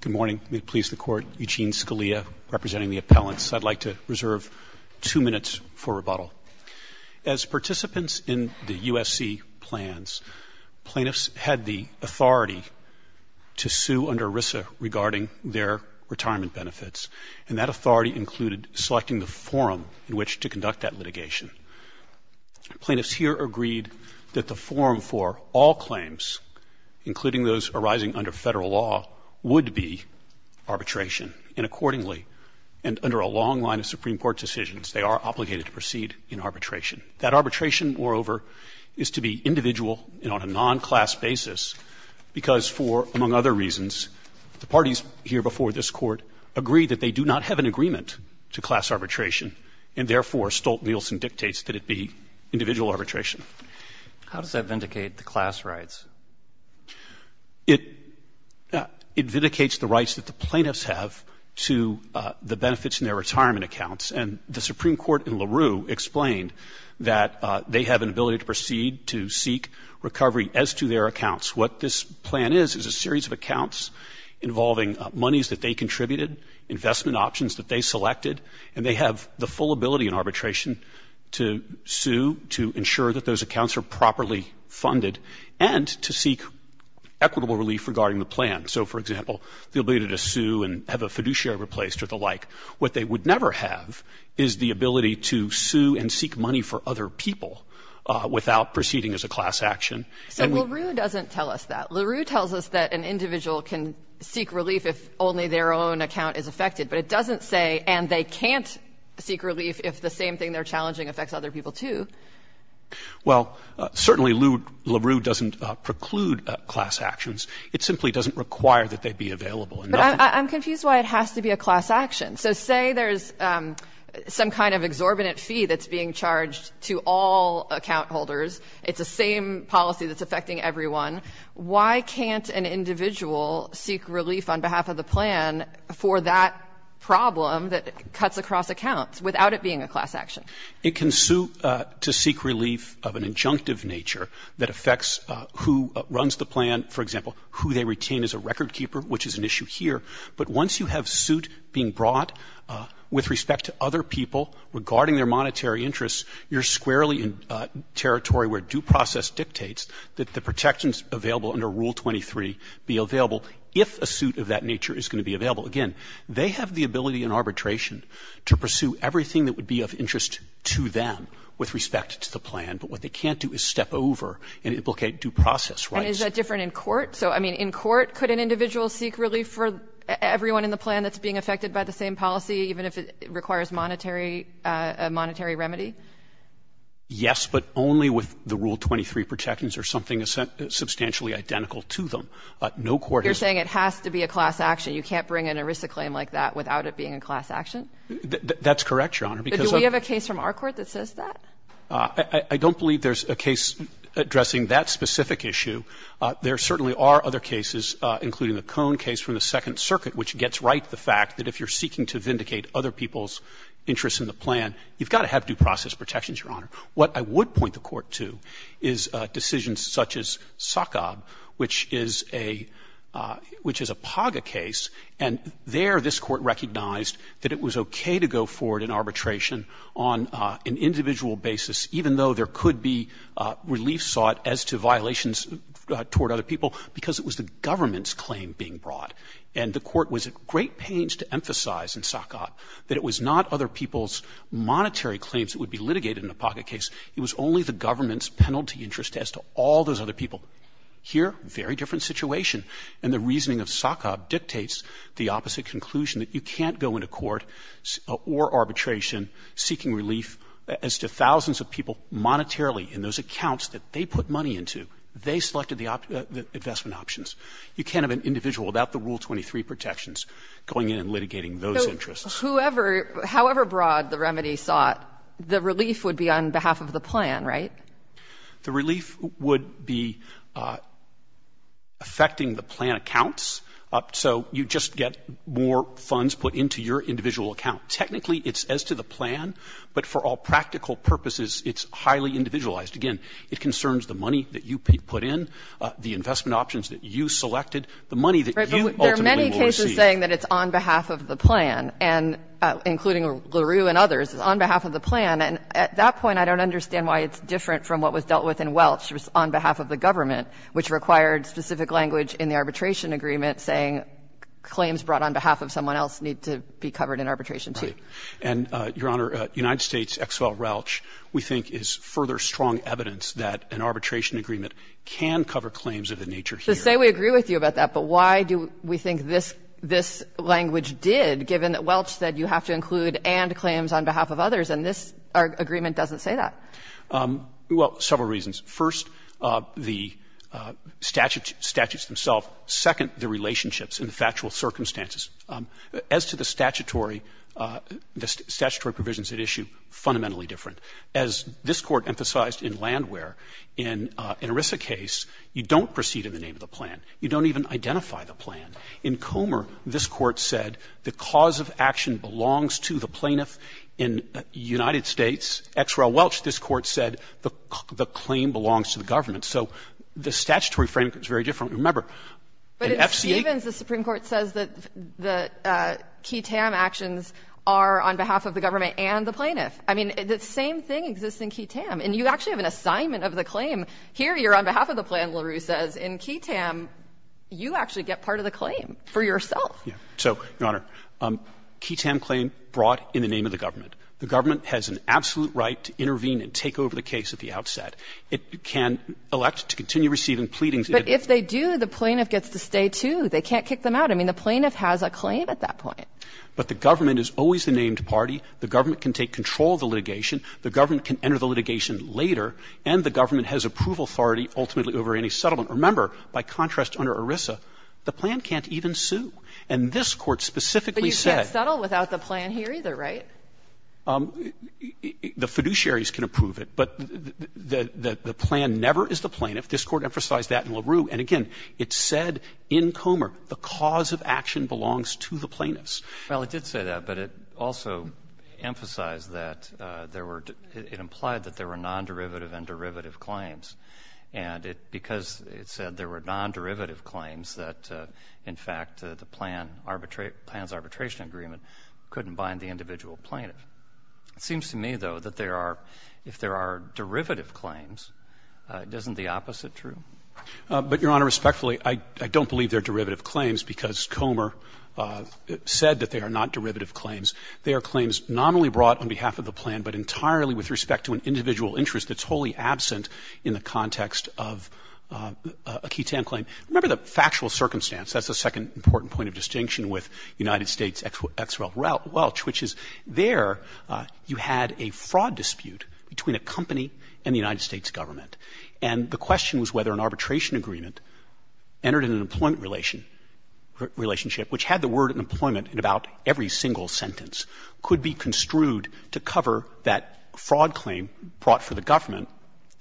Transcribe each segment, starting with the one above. Good morning. May it please the Court, Eugene Scalia representing the appellants. I'd like to reserve two minutes for rebuttal. As participants in the USC plans, plaintiffs had the authority to sue under ERISA regarding their retirement benefits, and that authority included selecting the forum in which to conduct that litigation. Plaintiffs here agreed that the forum for all claims, including those arising under Federal law, would be arbitration. And accordingly, and under a long line of Supreme Court decisions, they are obligated to proceed in arbitration. That arbitration, moreover, is to be individual and on a non-class basis, because for, among other reasons, the parties here before this Court agree that they do not have an agreement to class arbitration, and therefore Stolt-Nielsen dictates that it be individual arbitration. How does that vindicate the class rights? It, it vindicates the rights that the plaintiffs have to the benefits in their retirement accounts. And the Supreme Court in LaRue explained that they have an ability to proceed to seek recovery as to their accounts. What this plan is, is a series of accounts involving monies that they contributed, investment options that they selected, and they have the full ability in arbitration to sue, to ensure that those accounts are properly funded, and to seek equitable relief regarding the plan. So, for example, the ability to sue and have a fiduciary replaced or the like. What they would never have is the ability to sue and seek money for other people without proceeding as a class action. So LaRue doesn't tell us that. LaRue tells us that an individual can seek relief if only their own account is affected. But it doesn't say, and they can't seek relief if the same thing they're challenging affects other people, too. Well, certainly LaRue doesn't preclude class actions. It simply doesn't require that they be available. But I'm confused why it has to be a class action. So say there's some kind of exorbitant fee that's being charged to all account holders. It's the same policy that's affecting everyone. Why can't an individual seek relief on behalf of the plan for that problem that cuts across accounts without it being a class action? It can sue to seek relief of an injunctive nature that affects who runs the plan, for example, who they retain as a record keeper, which is an issue here. But once you have suit being brought with respect to other people regarding their monetary interests, you're protections available under Rule 23 be available if a suit of that nature is going to be available. Again, they have the ability in arbitration to pursue everything that would be of interest to them with respect to the plan. But what they can't do is step over and implicate due process rights. And is that different in court? So, I mean, in court, could an individual seek relief for everyone in the plan that's being affected by the same policy, even if it requires monetary — a monetary remedy? Yes, but only with the Rule 23 protections or something substantially identical to them. No court has — You're saying it has to be a class action. You can't bring an ERISA claim like that without it being a class action? That's correct, Your Honor, because — But do we have a case from our court that says that? I don't believe there's a case addressing that specific issue. There certainly are other cases, including the Cone case from the Second Circuit, which gets right the fact that if you're seeking to vindicate other people's interests in the plan, you've got to have due process protections, Your Honor. What I would point the court to is decisions such as SACOB, which is a — which is a PAGA case. And there, this court recognized that it was okay to go forward in arbitration on an individual basis, even though there could be relief sought as to violations toward other people, because it was the government's claim being brought. And the court was at great pains to emphasize in SACOB that it was not other people's monetary claims that would be litigated in a PAGA case. It was only the government's penalty interest as to all those other people. Here, very different situation. And the reasoning of SACOB dictates the opposite conclusion, that you can't go into court or arbitration seeking relief as to thousands of people monetarily in those accounts that they put money into. They selected the investment options. You can't have an individual without the Rule 23 protections going in and litigating those interests. So whoever — however broad the remedy sought, the relief would be on behalf of the plan, right? The relief would be affecting the plan accounts. So you just get more funds put into your individual account. Technically, it's as to the plan, but for all practical purposes, it's highly individualized. Again, it concerns the money that you put in, the investment options that you selected, the money that you ultimately will receive. But there are many cases saying that it's on behalf of the plan, and including LaRue and others, it's on behalf of the plan. And at that point, I don't understand why it's different from what was dealt with in Welch, which was on behalf of the government, which required specific language in the arbitration agreement saying claims brought on behalf of someone else need to be covered in arbitration, too. Right. And, Your Honor, United States' XFL-RELCH, we think, is further strong evidence that an arbitration agreement can cover claims of the nature here. So say we agree with you about that, but why do we think this language did, given that Welch said you have to include and claims on behalf of others, and this agreement doesn't say that? Well, several reasons. First, the statutes themselves. Second, the relationships and the factual circumstances. As to the statutory provisions at issue, fundamentally different. As this Court emphasized in Landwehr, in an ERISA case, you don't proceed in the name of the plan. You don't even identify the plan. In Comer, this Court said the cause of action belongs to the plaintiff. In United States' XFL-RELCH, this Court said the claim belongs to the government. So the statutory framework is very different. Remember, in FCA ---- But in Stevens, the Supreme Court says that the QE-TAM actions are on behalf of the government and the plaintiff. I mean, the same thing exists in QE-TAM. And you actually have an assignment of the claim. Here, you're on behalf of the plan, LaRue says. In QE-TAM, you actually get part of the claim for yourself. Yeah. So, Your Honor, QE-TAM claim brought in the name of the government. The government has an absolute right to intervene and take over the case at the outset. It can elect to continue receiving pleadings. But if they do, the plaintiff gets to stay, too. They can't kick them out. I mean, the plaintiff has a claim at that point. But the government is always the named party. The government can take control of the And the government has approval authority ultimately over any settlement. Remember, by contrast, under ERISA, the plan can't even sue. And this Court specifically said ---- But you can't settle without the plan here either, right? The fiduciaries can approve it. But the plan never is the plaintiff. This Court emphasized that in LaRue. And again, it said in Comer the cause of action belongs to the plaintiffs. Well, it did say that, but it also emphasized that there were ---- it implied that there were non-derivative and derivative claims. And it ---- because it said there were non-derivative claims that, in fact, the plan arbitrate ---- the plan's arbitration agreement couldn't bind the individual plaintiff. It seems to me, though, that there are ---- if there are derivative claims, isn't the opposite true? But, Your Honor, respectfully, I don't believe they're derivative claims because Comer said that they are not derivative claims. They are claims not only brought on behalf of the plan, but entirely with respect to an individual interest that's wholly absent in the context of a ketan claim. Remember the factual circumstance. That's the second important point of distinction with United States ex rel welch, which is there you had a fraud dispute between a company and the United States government. And the question was whether an arbitration agreement entered an employment relation ---- relationship which had the word employment in about every single sentence could be construed to cover that fraud claim brought for the government.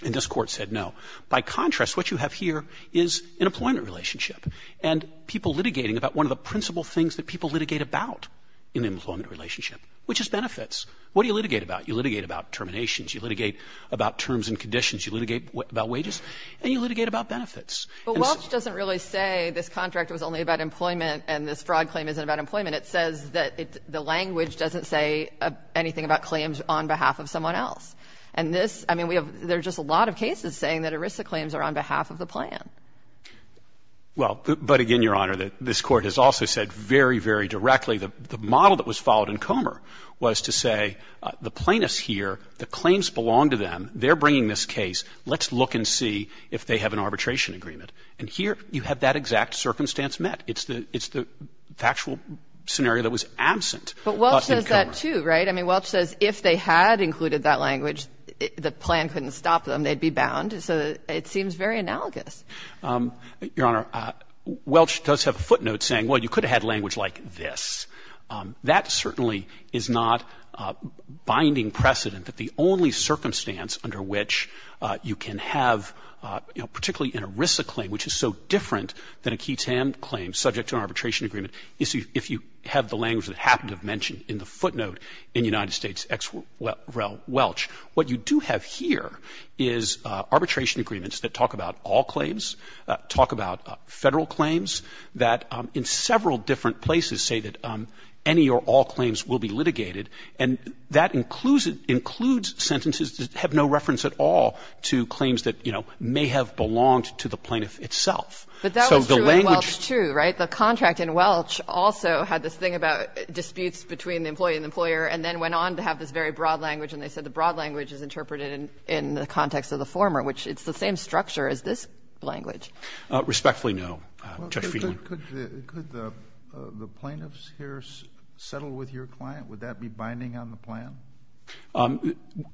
And this Court said no. By contrast, what you have here is an employment relationship. And people litigating about one of the principal things that people litigate about in an employment relationship, which is benefits. What do you litigate about? You litigate about terminations. You litigate about terms and conditions. You litigate about wages. And you litigate about benefits. But welch doesn't really say this contract was only about employment and this fraud claim isn't about employment. It says that the language doesn't say anything about claims on behalf of someone else. And this ---- I mean, we have ---- there are just a lot of cases saying that ERISA claims are on behalf of the plan. Well, but again, Your Honor, this Court has also said very, very directly, the model that was followed in Comer was to say the plaintiffs here, the claims belong to them, they're bringing this case, let's look and see if they have an arbitration agreement. And here you have that exact circumstance met. It's the ---- it's the factual scenario that was absent in Comer. But welch says that, too, right? I mean, welch says if they had included that language, the plan couldn't stop them. They'd be bound. So it seems very analogous. Your Honor, welch does have a footnote saying, well, you could have had language like this. That certainly is not a binding precedent that the only circumstance under which you can have, you know, particularly an ERISA claim, which is so different than a QI-TAM claim subject to an arbitration agreement, is if you have the language that happened to have mentioned in the footnote in United States ex rel welch. What you do have here is arbitration agreements that talk about all claims, talk about Federal claims, that in several different places say that any or all claims will be litigated, and that includes sentences that have no reference at all to claims that, you know, may have belonged to the plaintiff itself. But that was true in welch, too, right? The contract in welch also had this thing about disputes between the employee and the employer, and then went on to have this very broad language, and they said the broad language is interpreted in the context of the former, which it's the same structure as this language. Respectfully, no. Judge Feeney. Could the plaintiffs here settle with your client? Would that be binding on the plan?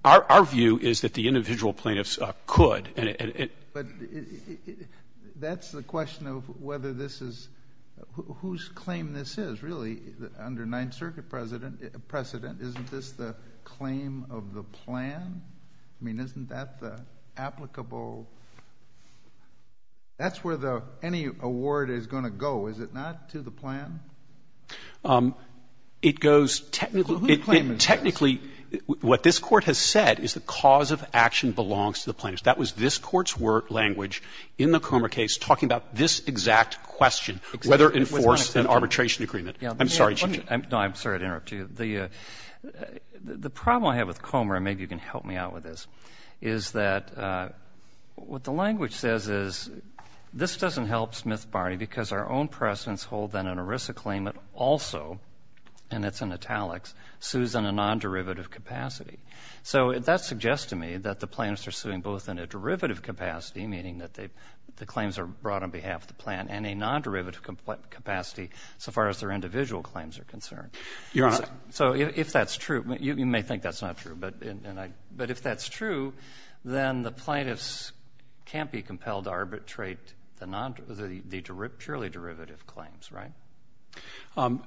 Our view is that the individual plaintiffs could. But that's the question of whether this is — whose claim this is, really, under Ninth Circuit precedent, isn't this the claim of the plan? I mean, isn't that the applicable — that's where the — any award is going to go, is it not, to the plan? It goes technically — Well, who's claim is this? Technically, what this Court has said is the cause of action belongs to the plaintiffs. That was this Court's language in the Comer case talking about this exact question, whether it enforced an arbitration agreement. I'm sorry, Judge. No, I'm sorry to interrupt you. The problem I have with Comer, and maybe you can help me out with this, is that what the language says is this doesn't help Smith Barney because our own precedents hold that an ERISA claimant also, and it's in italics, sues in a nonderivative capacity. So that suggests to me that the plaintiffs are suing both in a derivative capacity, meaning that the claims are brought on behalf of the plan, and a nonderivative capacity so far as their individual claims are concerned. Your Honor — So if that's true — you may think that's not true, but if that's true, then the plaintiffs can't be compelled to arbitrate the purely derivative claims, right?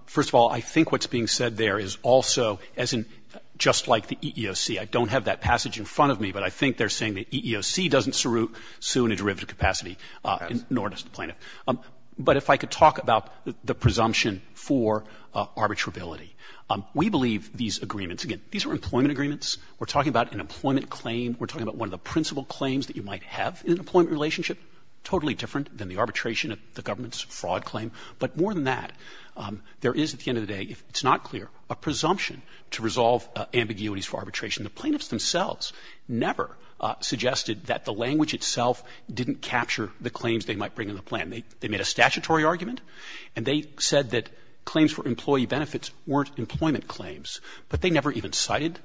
First of all, I think what's being said there is also, as in — just like the EEOC. I don't have that passage in front of me, but I think they're saying the EEOC doesn't sue in a derivative capacity, nor does the plaintiff. But if I could talk about the presumption for arbitrability. We believe these agreements — again, these are employment agreements. We're talking about an employment claim. We're talking about one of the principal claims that you might have in an employment relationship. Totally different than the arbitration of the government's fraud claim. But more than that, there is, at the end of the day, if it's not clear, a presumption to resolve ambiguities for arbitration. The plaintiffs themselves never suggested that the language itself didn't capture the claims they might bring in the plan. They made a statutory argument, and they said that claims for employee benefits weren't employment claims. But they never even cited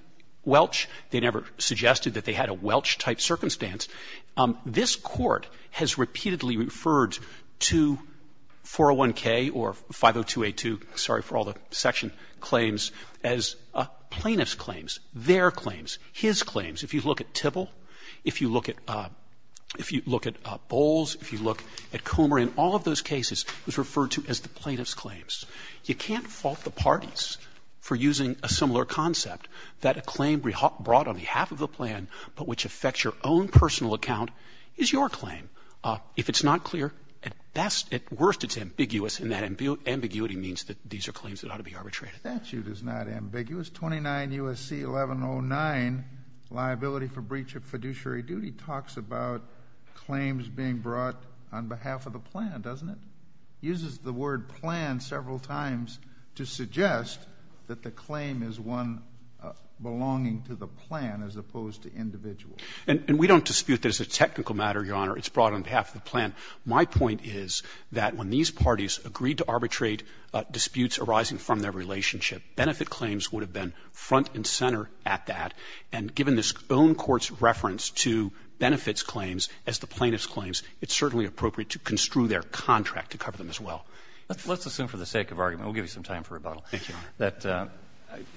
Welch. They never suggested that they had a Welch-type circumstance. This Court has repeatedly referred to 401K or 502A2, sorry for all the section claims, as plaintiff's claims, their claims, his claims. If you look at Tibble, if you look at — if you look at Bowles, if you look at Comer, in all of those cases, it was referred to as the plaintiff's claims. You can't fault the parties for using a similar concept, that a claim brought on behalf of the plan, but which affects your own personal account, is your claim. If it's not clear, at best — at worst, it's ambiguous, and that ambiguity means that these are claims that ought to be arbitrated. The statute is not ambiguous. 29 U.S.C. 1109, Liability for Breach of Fiduciary Duty, talks about claims being brought on behalf of the plan, doesn't it? Uses the word plan several times to suggest that the claim is one belonging to the plan as opposed to individual. And we don't dispute that as a technical matter, Your Honor, it's brought on behalf of the plan. My point is that when these parties agreed to arbitrate disputes arising from their relationship, benefit claims would have been front and center at that. And given this own court's reference to benefits claims as the plaintiff's claims, it's certainly appropriate to construe their contract to cover them as well. Let's assume for the sake of argument, we'll give you some time for rebuttal, that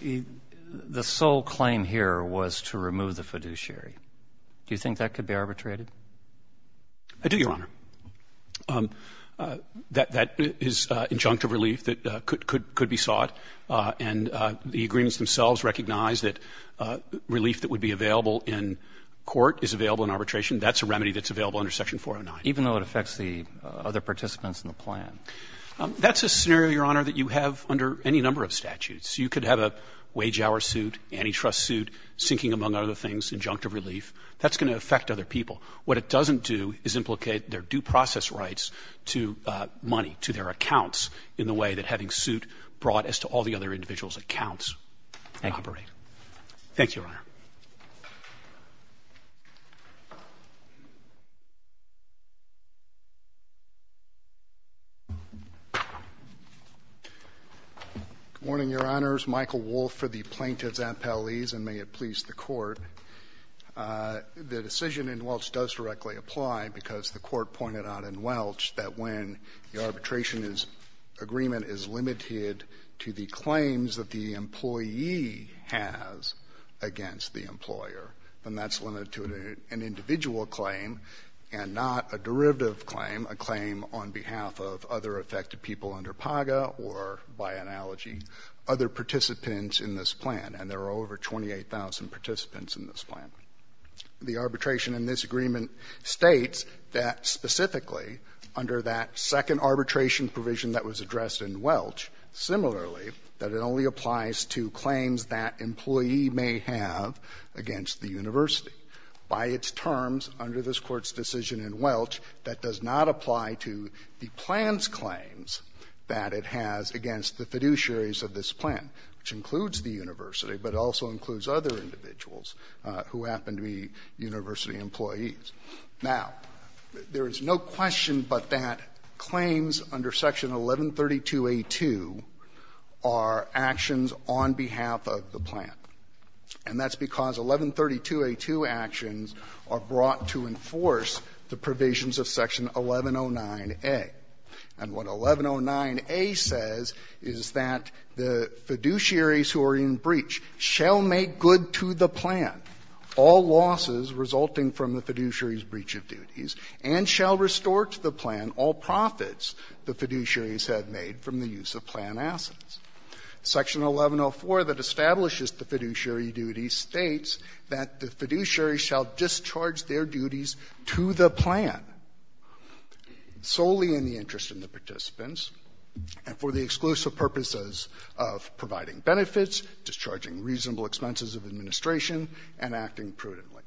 the sole claim here was to remove the fiduciary. Do you think that could be arbitrated? I do, Your Honor. That is injunctive relief that could be sought. And the agreements themselves recognize that relief that would be available in court is available in arbitration. That's a remedy that's available under Section 409. Even though it affects the other participants in the plan? That's a scenario, Your Honor, that you have under any number of statutes. You could have a wage-hour suit, antitrust suit, sinking, among other things, injunctive relief. That's going to affect other people. What it doesn't do is implicate their due process rights to money, to their accounts in the way that having suit brought as to all the other individuals' accounts could operate. Thank you, Your Honor. Good morning, Your Honors. Michael Wolff for the Plaintiffs' Appellees, and may it please the Court. The decision in Welch does directly apply, because the Court pointed out in Welch that when the arbitration is — agreement is limited to the claims that the employee has against the employer, then that's limited to an individual claim and not a derivative claim, a claim on behalf of other affected people under PAGA or, by analogy, other participants in this plan. And there are over 28,000 participants in this plan. The arbitration in this agreement states that specifically, under that second arbitration provision that was addressed in Welch, similarly, that it only applies to claims that employee may have against the university. By its terms, under this Court's decision in Welch, that does not apply to the plan's claims that it has against the fiduciaries of this plan, which includes the university, but it also includes other individuals who happen to be university employees. Now, there is no question but that claims under Section 1132A2 are actions on behalf of the plan, and that's because 1132A2 actions are brought to enforce the provisions of Section 1109A. And what 1109A says is that the fiduciaries who are in breach shall make good to the plan all losses resulting from the fiduciaries' breach of duties and shall restore to the plan all profits the fiduciaries have made from the use of plan assets. Section 1104 that establishes the fiduciary duty states that the fiduciary shall discharge their duties to the plan solely in the interest of the participants and for the exclusive purposes of providing benefits, discharging reasonable expenses of administration, and acting prudently.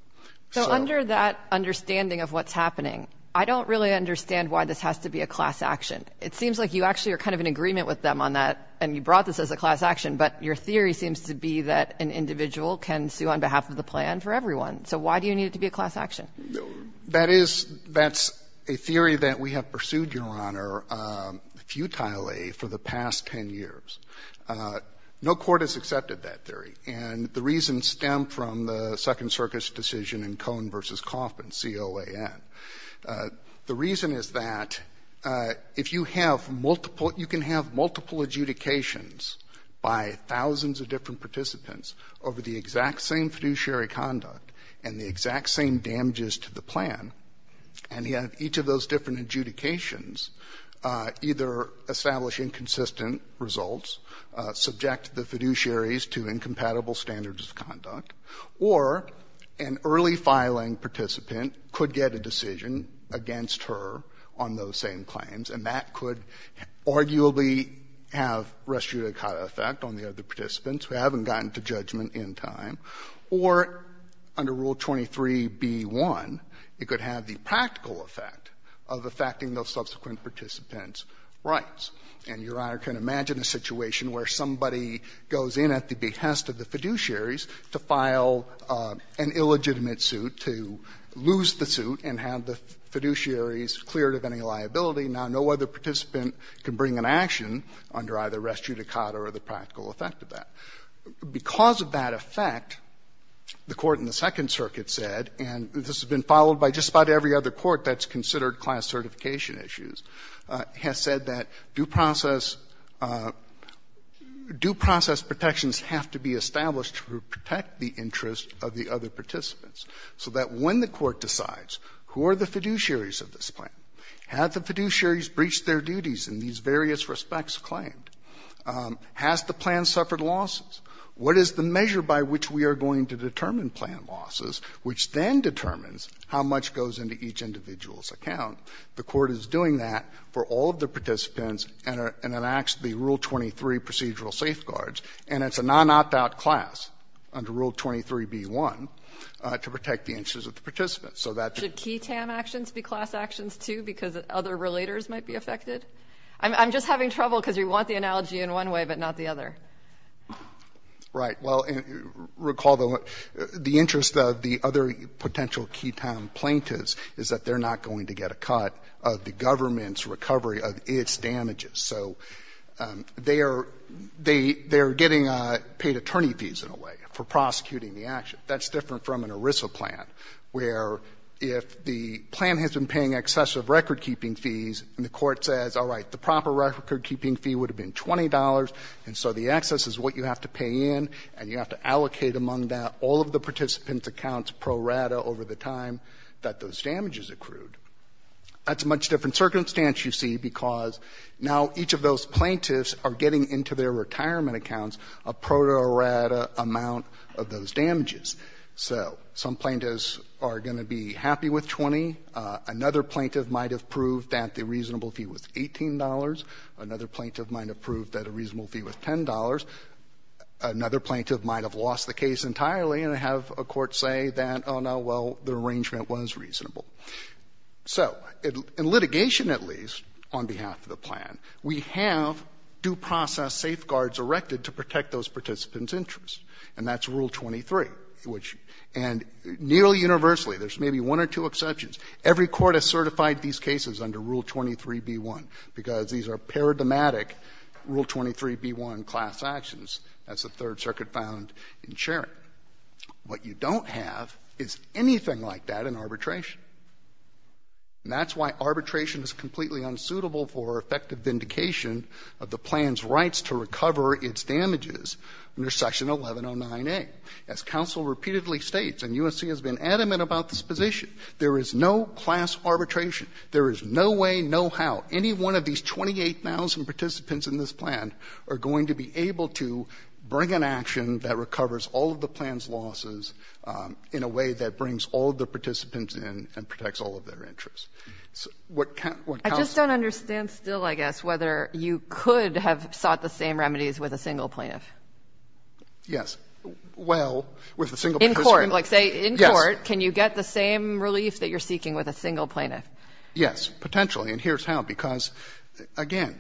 So under that understanding of what's happening, I don't really understand why this has to be a class action. It seems like you actually are kind of in agreement with them on that, and you brought this as a class action, but your theory seems to be that an individual can sue on behalf of the plan for everyone. So why do you need it to be a class action? That is — that's a theory that we have pursued, Your Honor, futilely for the past 10 years. No court has accepted that theory, and the reason stemmed from the Second Circuit's decision in Cohn v. Kaufman, C-O-A-N. The reason is that if you have multiple — you can have multiple adjudications by thousands of different participants over the exact same fiduciary conduct and the exact same damages to the plan, and yet each of those different adjudications either establish inconsistent results, subject the fiduciaries to incompatible standards of conduct, or an early-filing participant could get a decision against her on those same claims, and that could arguably have res judicata effect on the other participants who haven't gotten to judgment in time, or under Rule 23b-1, it could have the practical effect of affecting those subsequent participants' rights. And, Your Honor, can you imagine a situation where somebody goes in at the behest of the fiduciaries to file an illegitimate suit, to lose the suit and have the fiduciaries cleared of any liability, now no other participant can bring an action under either res judicata or the practical effect of that? Because of that effect, the Court in the Second Circuit said, and this has been followed by just about every other court that's considered class certification issues, has said that due process — due process protections have to be established to protect the interests of the other participants, so that when the Court decides who are the fiduciaries of this plan, have the fiduciaries breached their duties in these various respects claimed, has the plan suffered losses, what is the measure by which we are going to determine plan losses, which then determines how much goes into each individual's account, the Court is doing that for all of the participants and enacts the Rule 23 procedural safeguards and it's a non-opt-out class under Rule 23b-1 to protect the interests of the participants. So that's the key to have actions be class actions, too, because other relators might be affected? I'm just having trouble because we want the analogy in one way, but not the other. Right. Well, recall the interest of the other potential qui tam plaintiffs is that they're not going to get a cut of the government's recovery of its damages. So they are getting paid attorney fees, in a way, for prosecuting the action. That's different from an ERISA plan, where if the plan has been paying excessive recordkeeping fees and the Court says, all right, the proper recordkeeping fee would have been $20, and so the excess is what you have to pay in and you have to allocate among that all of the participants' accounts pro rata over the time that those damages accrued. That's a much different circumstance, you see, because now each of those plaintiffs are getting into their retirement accounts a pro rata amount of those damages. So some plaintiffs are going to be happy with 20. Another plaintiff might have proved that the reasonable fee was $18. Another plaintiff might have proved that a reasonable fee was $10. Another plaintiff might have lost the case entirely and have a court say that, oh, no, well, the arrangement was reasonable. So in litigation, at least, on behalf of the plan, we have due process safeguards erected to protect those participants' interests, and that's Rule 23, which — and nearly universally, there's maybe one or two exceptions, every court has certified these cases under Rule 23b-1, because these are paradigmatic Rule 23b-1 class actions. That's the Third Circuit found in Shering. What you don't have is anything like that in arbitration. And that's why arbitration is completely unsuitable for effective vindication of the plan's rights to recover its damages under Section 1109A. As counsel repeatedly states, and USC has been adamant about this position, there is no class arbitration. There is no way, no how, any one of these 28,000 participants in this plan are going to be able to bring an action that recovers all of the plan's losses in a way that protects all of their interests. So what counsel — I just don't understand still, I guess, whether you could have sought the same remedies with a single plaintiff. Yes. Well, with a single participant — In court. Yes. Like, say, in court, can you get the same relief that you're seeking with a single plaintiff? Yes, potentially. And here's how, because, again,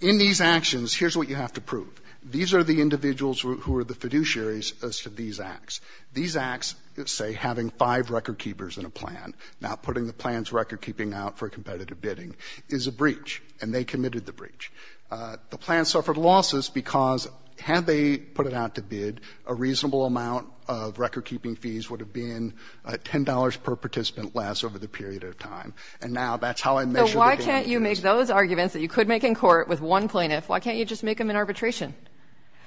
in these actions, here's what you have to prove. These are the individuals who are the fiduciaries as to these acts. These acts, say, having five record keepers in a plan, not putting the plan's recordkeeping out for competitive bidding, is a breach, and they committed the breach. The plan suffered losses because had they put it out to bid, a reasonable amount of recordkeeping fees would have been $10 per participant less over the period of time, and now that's how I measure the damages. So why can't you make those arguments that you could make in court with one plaintiff, why can't you just make them in arbitration?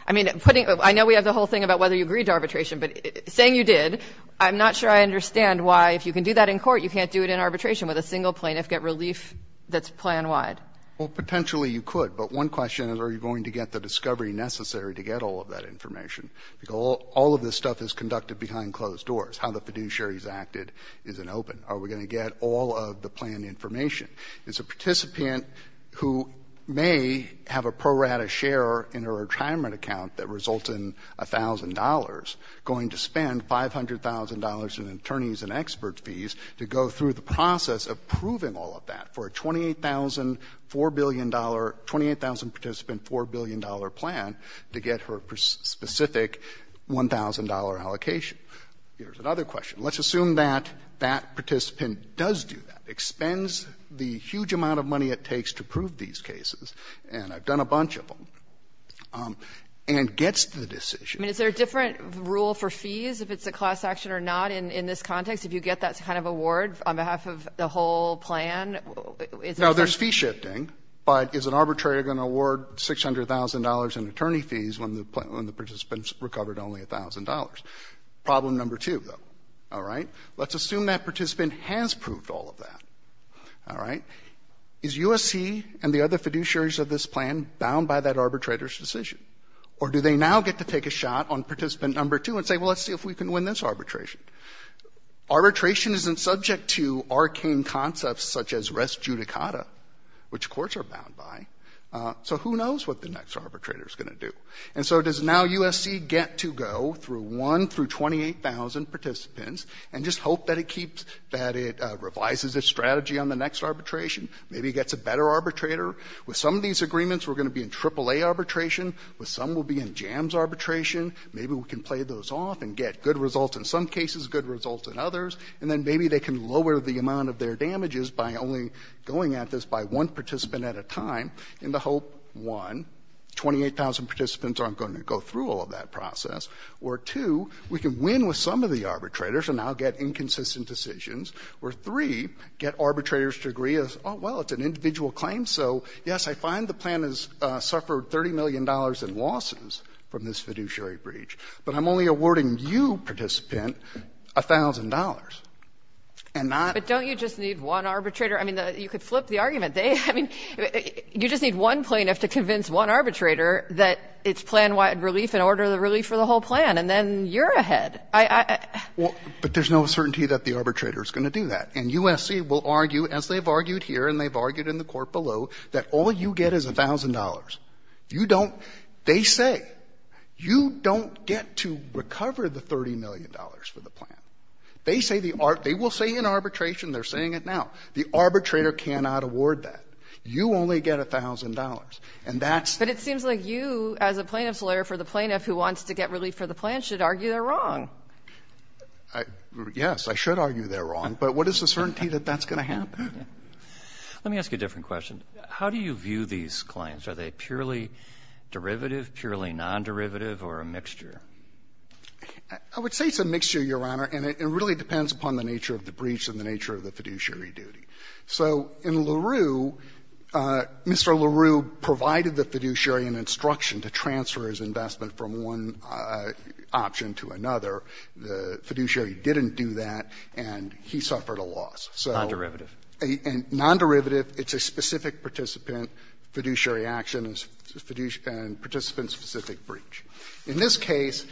I mean, putting — I know we have the whole thing about whether you agreed to arbitration, but saying you did, I'm not sure I understand why, if you can do that in court, you can't do it in arbitration with a single plaintiff, get relief that's plan-wide. Well, potentially you could, but one question is, are you going to get the discovery necessary to get all of that information? Because all of this stuff is conducted behind closed doors. How the fiduciary's acted isn't open. Are we going to get all of the plan information? It's a participant who may have a pro rata share in a retirement account that results in $1,000 going to spend $500,000 in attorney's and expert fees to go through the process of proving all of that for a $28,000, $4 billion — $28,000-participant $4 billion plan to get her specific $1,000 allocation. Here's another question. Let's assume that that participant does do that, expends the huge amount of money it takes to prove these cases, and I've done a bunch of them, and gets the decision. I mean, is there a different rule for fees, if it's a class action or not, in this context, if you get that kind of award on behalf of the whole plan? Now, there's fee shifting, but is an arbitrator going to award $600,000 in attorney fees when the participant's recovered only $1,000? Problem number two, though, all right? Let's assume that participant has proved all of that, all right? Is your USC and the other fiduciaries of this plan bound by that arbitrator's decision? Or do they now get to take a shot on participant number two and say, well, let's see if we can win this arbitration? Arbitration isn't subject to arcane concepts such as res judicata, which courts are bound by. So who knows what the next arbitrator is going to do? And so does now USC get to go through 1,000 through 28,000 participants and just hope that it keeps, that it revises its strategy on the next arbitration? Maybe it gets a better arbitrator. With some of these agreements, we're going to be in AAA arbitration. With some, we'll be in JAMS arbitration. Maybe we can play those off and get good results in some cases, good results in others. And then maybe they can lower the amount of their damages by only going at this by one participant at a time in the hope, one, 28,000 participants aren't going to go through all of that process, or two, we can win with some of the arbitrators and now get inconsistent decisions, or three, get arbitrators to agree, oh, well, it's an individual claim, so, yes, I find the plan has suffered $30 million in losses from this fiduciary breach, but I'm only awarding you, participant, $1,000 and not But don't you just need one arbitrator? I mean, you could flip the argument. They, I mean, you just need one plaintiff to convince one arbitrator that it's plan-wide relief in order to relieve for the whole plan, and then you're ahead. I, I, I, Well, but there's no certainty that the arbitrator's going to do that. And USC will argue, as they've argued here, and they've argued in the court below, that all you get is $1,000. You don't, they say, you don't get to recover the $30 million for the plan. They say the, they will say in arbitration they're saying it now. The arbitrator cannot award that. You only get $1,000, and that's But it seems like you, as a plaintiff's lawyer for the plaintiff who wants to get relief for the plan, should argue they're wrong. I, yes, I should argue they're wrong, but what is the certainty that that's going to happen? Let me ask you a different question. How do you view these claims? Are they purely derivative, purely non-derivative, or a mixture? I would say it's a mixture, Your Honor, and it really depends upon the nature of the breach and the nature of the fiduciary duty. So in LaRue, Mr. LaRue provided the fiduciary an instruction to transfer his investment from one option to another. The fiduciary didn't do that, and he suffered a loss. So. Roberts, and non-derivative, it's a specific participant, fiduciary action, and participant-specific breach. In this case,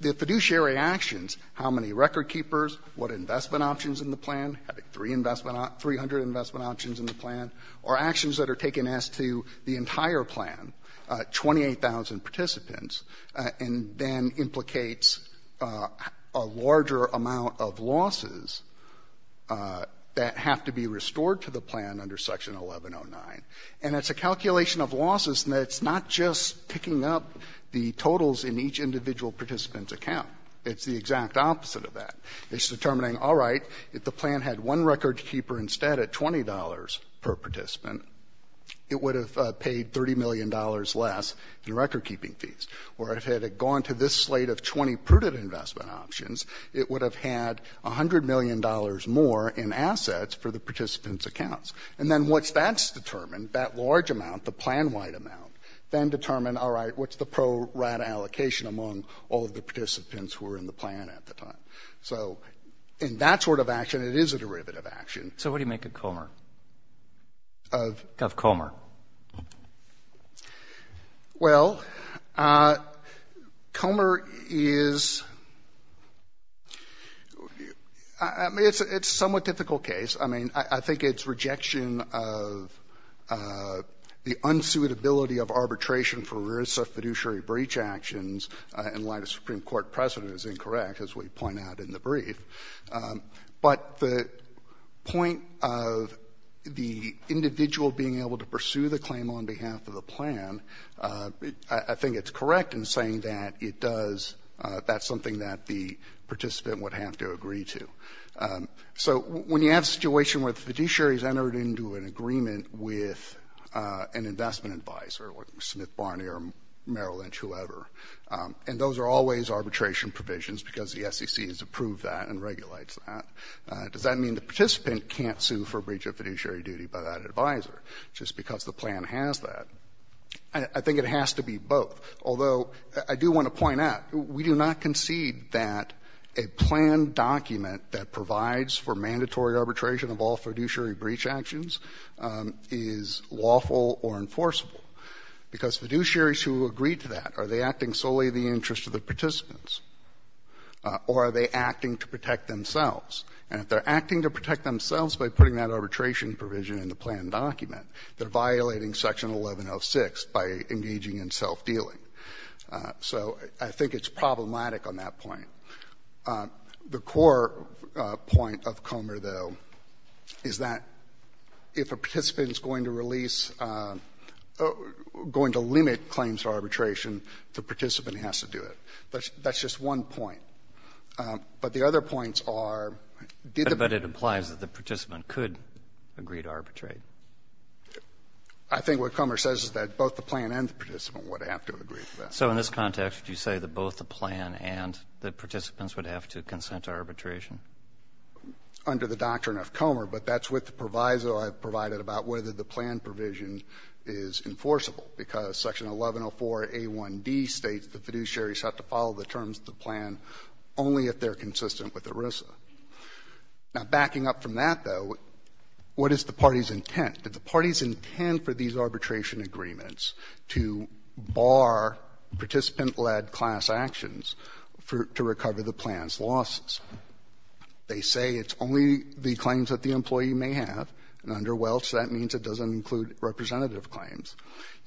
the fiduciary actions, how many record keepers, what investment options in the plan, having 300 investment options in the plan, are actions that are taken as to the entire plan, 28,000 participants, and then implicates a larger amount of losses that have to be restored to the plan under Section 1109. And it's a calculation of losses, and it's not just picking up the totals in each individual participant's account. It's the exact opposite of that. It's determining, all right, if the plan had one record keeper instead at $20 per participant, it would have paid $30 million less in record-keeping fees, or if it had gone to this slate of 20 prudent investment options, it would have had $100 million more in assets for the participants' accounts. And then once that's determined, that large amount, the plan-wide amount, then determine, all right, what's the pro-rat allocation among all of the participants who were in the plan at the time. So in that sort of action, it is a derivative action. So what do you make of Comer? Of? Of Comer. Well, Comer is — I mean, it's a somewhat difficult case. I mean, I think its rejection of the unsuitability of arbitration for risk of fiduciary breach actions in light of Supreme Court precedent is incorrect, as we point out in the brief. But the point of the individual being able to pursue the claim on behalf of the plan, I think it's correct in saying that it does — that's something that the participant would have to agree to. So when you have a situation where the fiduciary has entered into an agreement with an investment advisor, like Smith, Barney, or Merrill Lynch, whoever, and those are always arbitration provisions because the SEC has approved that and regulates that, does that mean the participant can't sue for a breach of fiduciary duty by that advisor just because the plan has that? I think it has to be both, although I do want to point out, we do not concede that a plan document that provides for mandatory arbitration of all fiduciary breach actions is lawful or enforceable, because fiduciaries who agree to that, are they acting solely in the interest of the participants, or are they acting to protect themselves? And if they're acting to protect themselves by putting that arbitration provision in the plan document, they're violating Section 1106 by engaging in self-dealing. So I think it's problematic on that point. The core point of Comer, though, is that if a participant is going to release claims to arbitration, the participant has to do it. That's just one point. But the other points are, did the ---- But it implies that the participant could agree to arbitrate. I think what Comer says is that both the plan and the participant would have to agree to that. So in this context, you say that both the plan and the participants would have to consent to arbitration? Under the doctrine of Comer, but that's what the proviso I've provided about whether the plan provision is enforceable, because Section 1104a1d states that fiduciaries have to follow the terms of the plan only if they're consistent with ERISA. Now, backing up from that, though, what is the party's intent? Did the party's intent for these arbitration agreements to bar participant-led class actions to recover the plan's losses? They say it's only the claims that the employee may have, and under Welch, that means it doesn't include representative claims.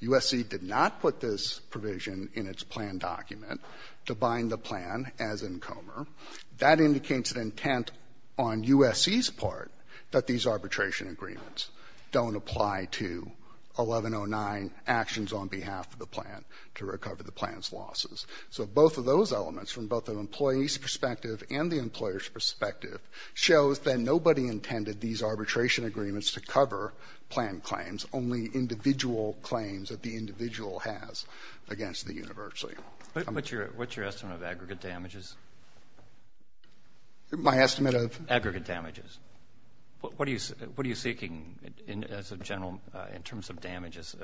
USC did not put this provision in its plan document to bind the plan as in Comer. That indicates an intent on USC's part that these arbitration agreements don't apply to 1109 actions on behalf of the plan to recover the plan's losses. So both of those elements, from both the employee's perspective and the employer's to cover plan claims, only individual claims that the individual has against the university. What's your estimate of aggregate damages? My estimate of? Aggregate damages. What are you seeking as a general, in terms of damages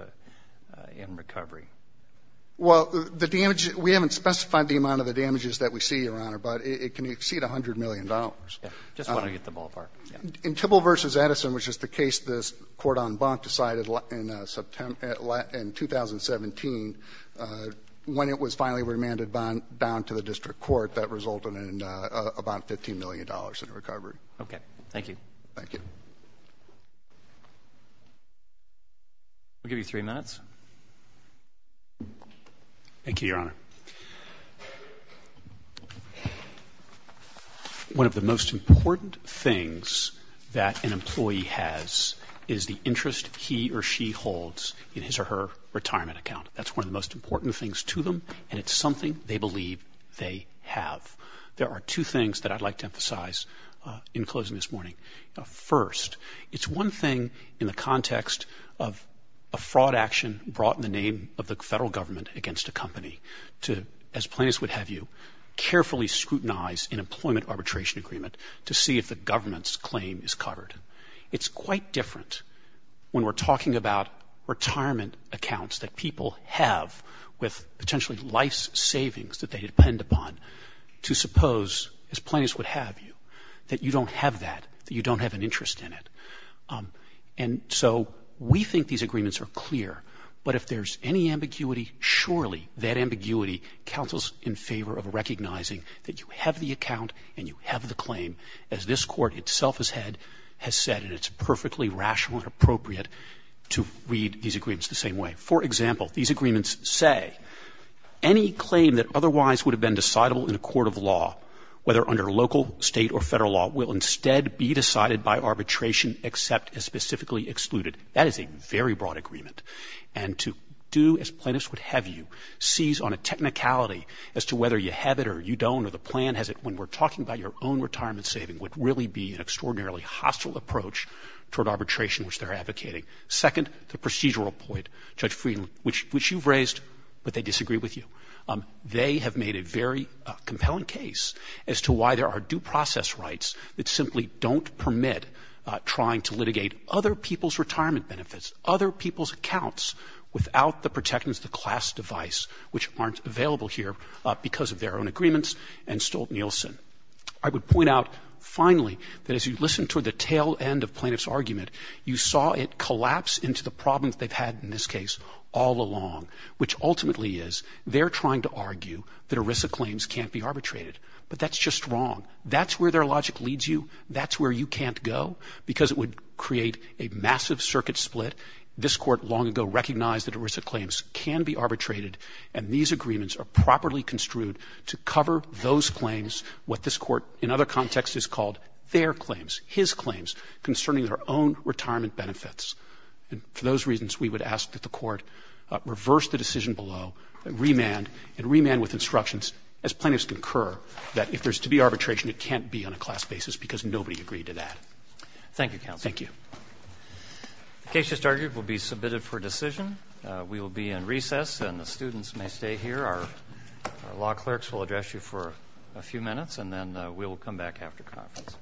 in recovery? Well, the damage, we haven't specified the amount of the damages that we see, Your Honor, but it can exceed $100 million. Just when I get to the ballpark. In Tibble v. Edison, which is the case this court on Bonk decided in 2017, when it was finally remanded bound to the district court, that resulted in about $15 million in recovery. Okay. Thank you. Thank you. I'll give you three minutes. Thank you, Your Honor. Thank you. One of the most important things that an employee has is the interest he or she holds in his or her retirement account. That's one of the most important things to them, and it's something they believe they have. There are two things that I'd like to emphasize in closing this morning. First, it's one thing in the context of a fraud action brought in the name of the federal government against a company to, as plaintiffs would have you, carefully scrutinize an employment arbitration agreement to see if the government's claim is covered. It's quite different when we're talking about retirement accounts that people have with potentially life's savings that they depend upon to suppose, as plaintiffs would have you, that you don't have that, that you don't have an interest in it. And so we think these agreements are clear, but if there's any ambiguity, surely that ambiguity counts in favor of recognizing that you have the account and you have the claim, as this Court itself has said, and it's perfectly rational and appropriate to read these agreements the same way. For example, these agreements say, any claim that otherwise would have been decidable in a court of law, whether under local, state, or federal law, will instead be decided by arbitration, except as specifically excluded. That is a very broad agreement. And to do, as plaintiffs would have you, seize on a technicality as to whether you have it or you don't, or the plan has it, when we're talking about your own retirement saving, would really be an extraordinarily hostile approach toward arbitration, which they're advocating. Second, the procedural point, Judge Frieden, which you've raised, but they disagree with you. They have made a very compelling case as to why there are due process rights that simply don't permit trying to litigate other people's retirement benefits, other people's accounts, without the protectants of the class device, which aren't available here because of their own agreements, and Stolt-Nielsen. I would point out, finally, that as you listen toward the tail end of plaintiff's argument, you saw it collapse into the problems they've had in this case all along, which ultimately is they're trying to argue that ERISA claims can't be arbitrated. But that's just wrong. That's where their logic leads you. That's where you can't go, because it would create a massive circuit split. This Court long ago recognized that ERISA claims can be arbitrated, and these agreements are properly construed to cover those claims, what this Court in other contexts has called their claims, his claims, concerning their own retirement benefits. And for those reasons, we would ask that the Court reverse the decision below, remand, and remand with instructions, as plaintiffs concur, that if there's to be arbitration, it can't be on a class basis, because nobody agreed to that. Thank you, Counsel. Thank you. The case just argued will be submitted for decision. We will be in recess, and the students may stay here. Our law clerks will address you for a few minutes, and then we'll come back after conference.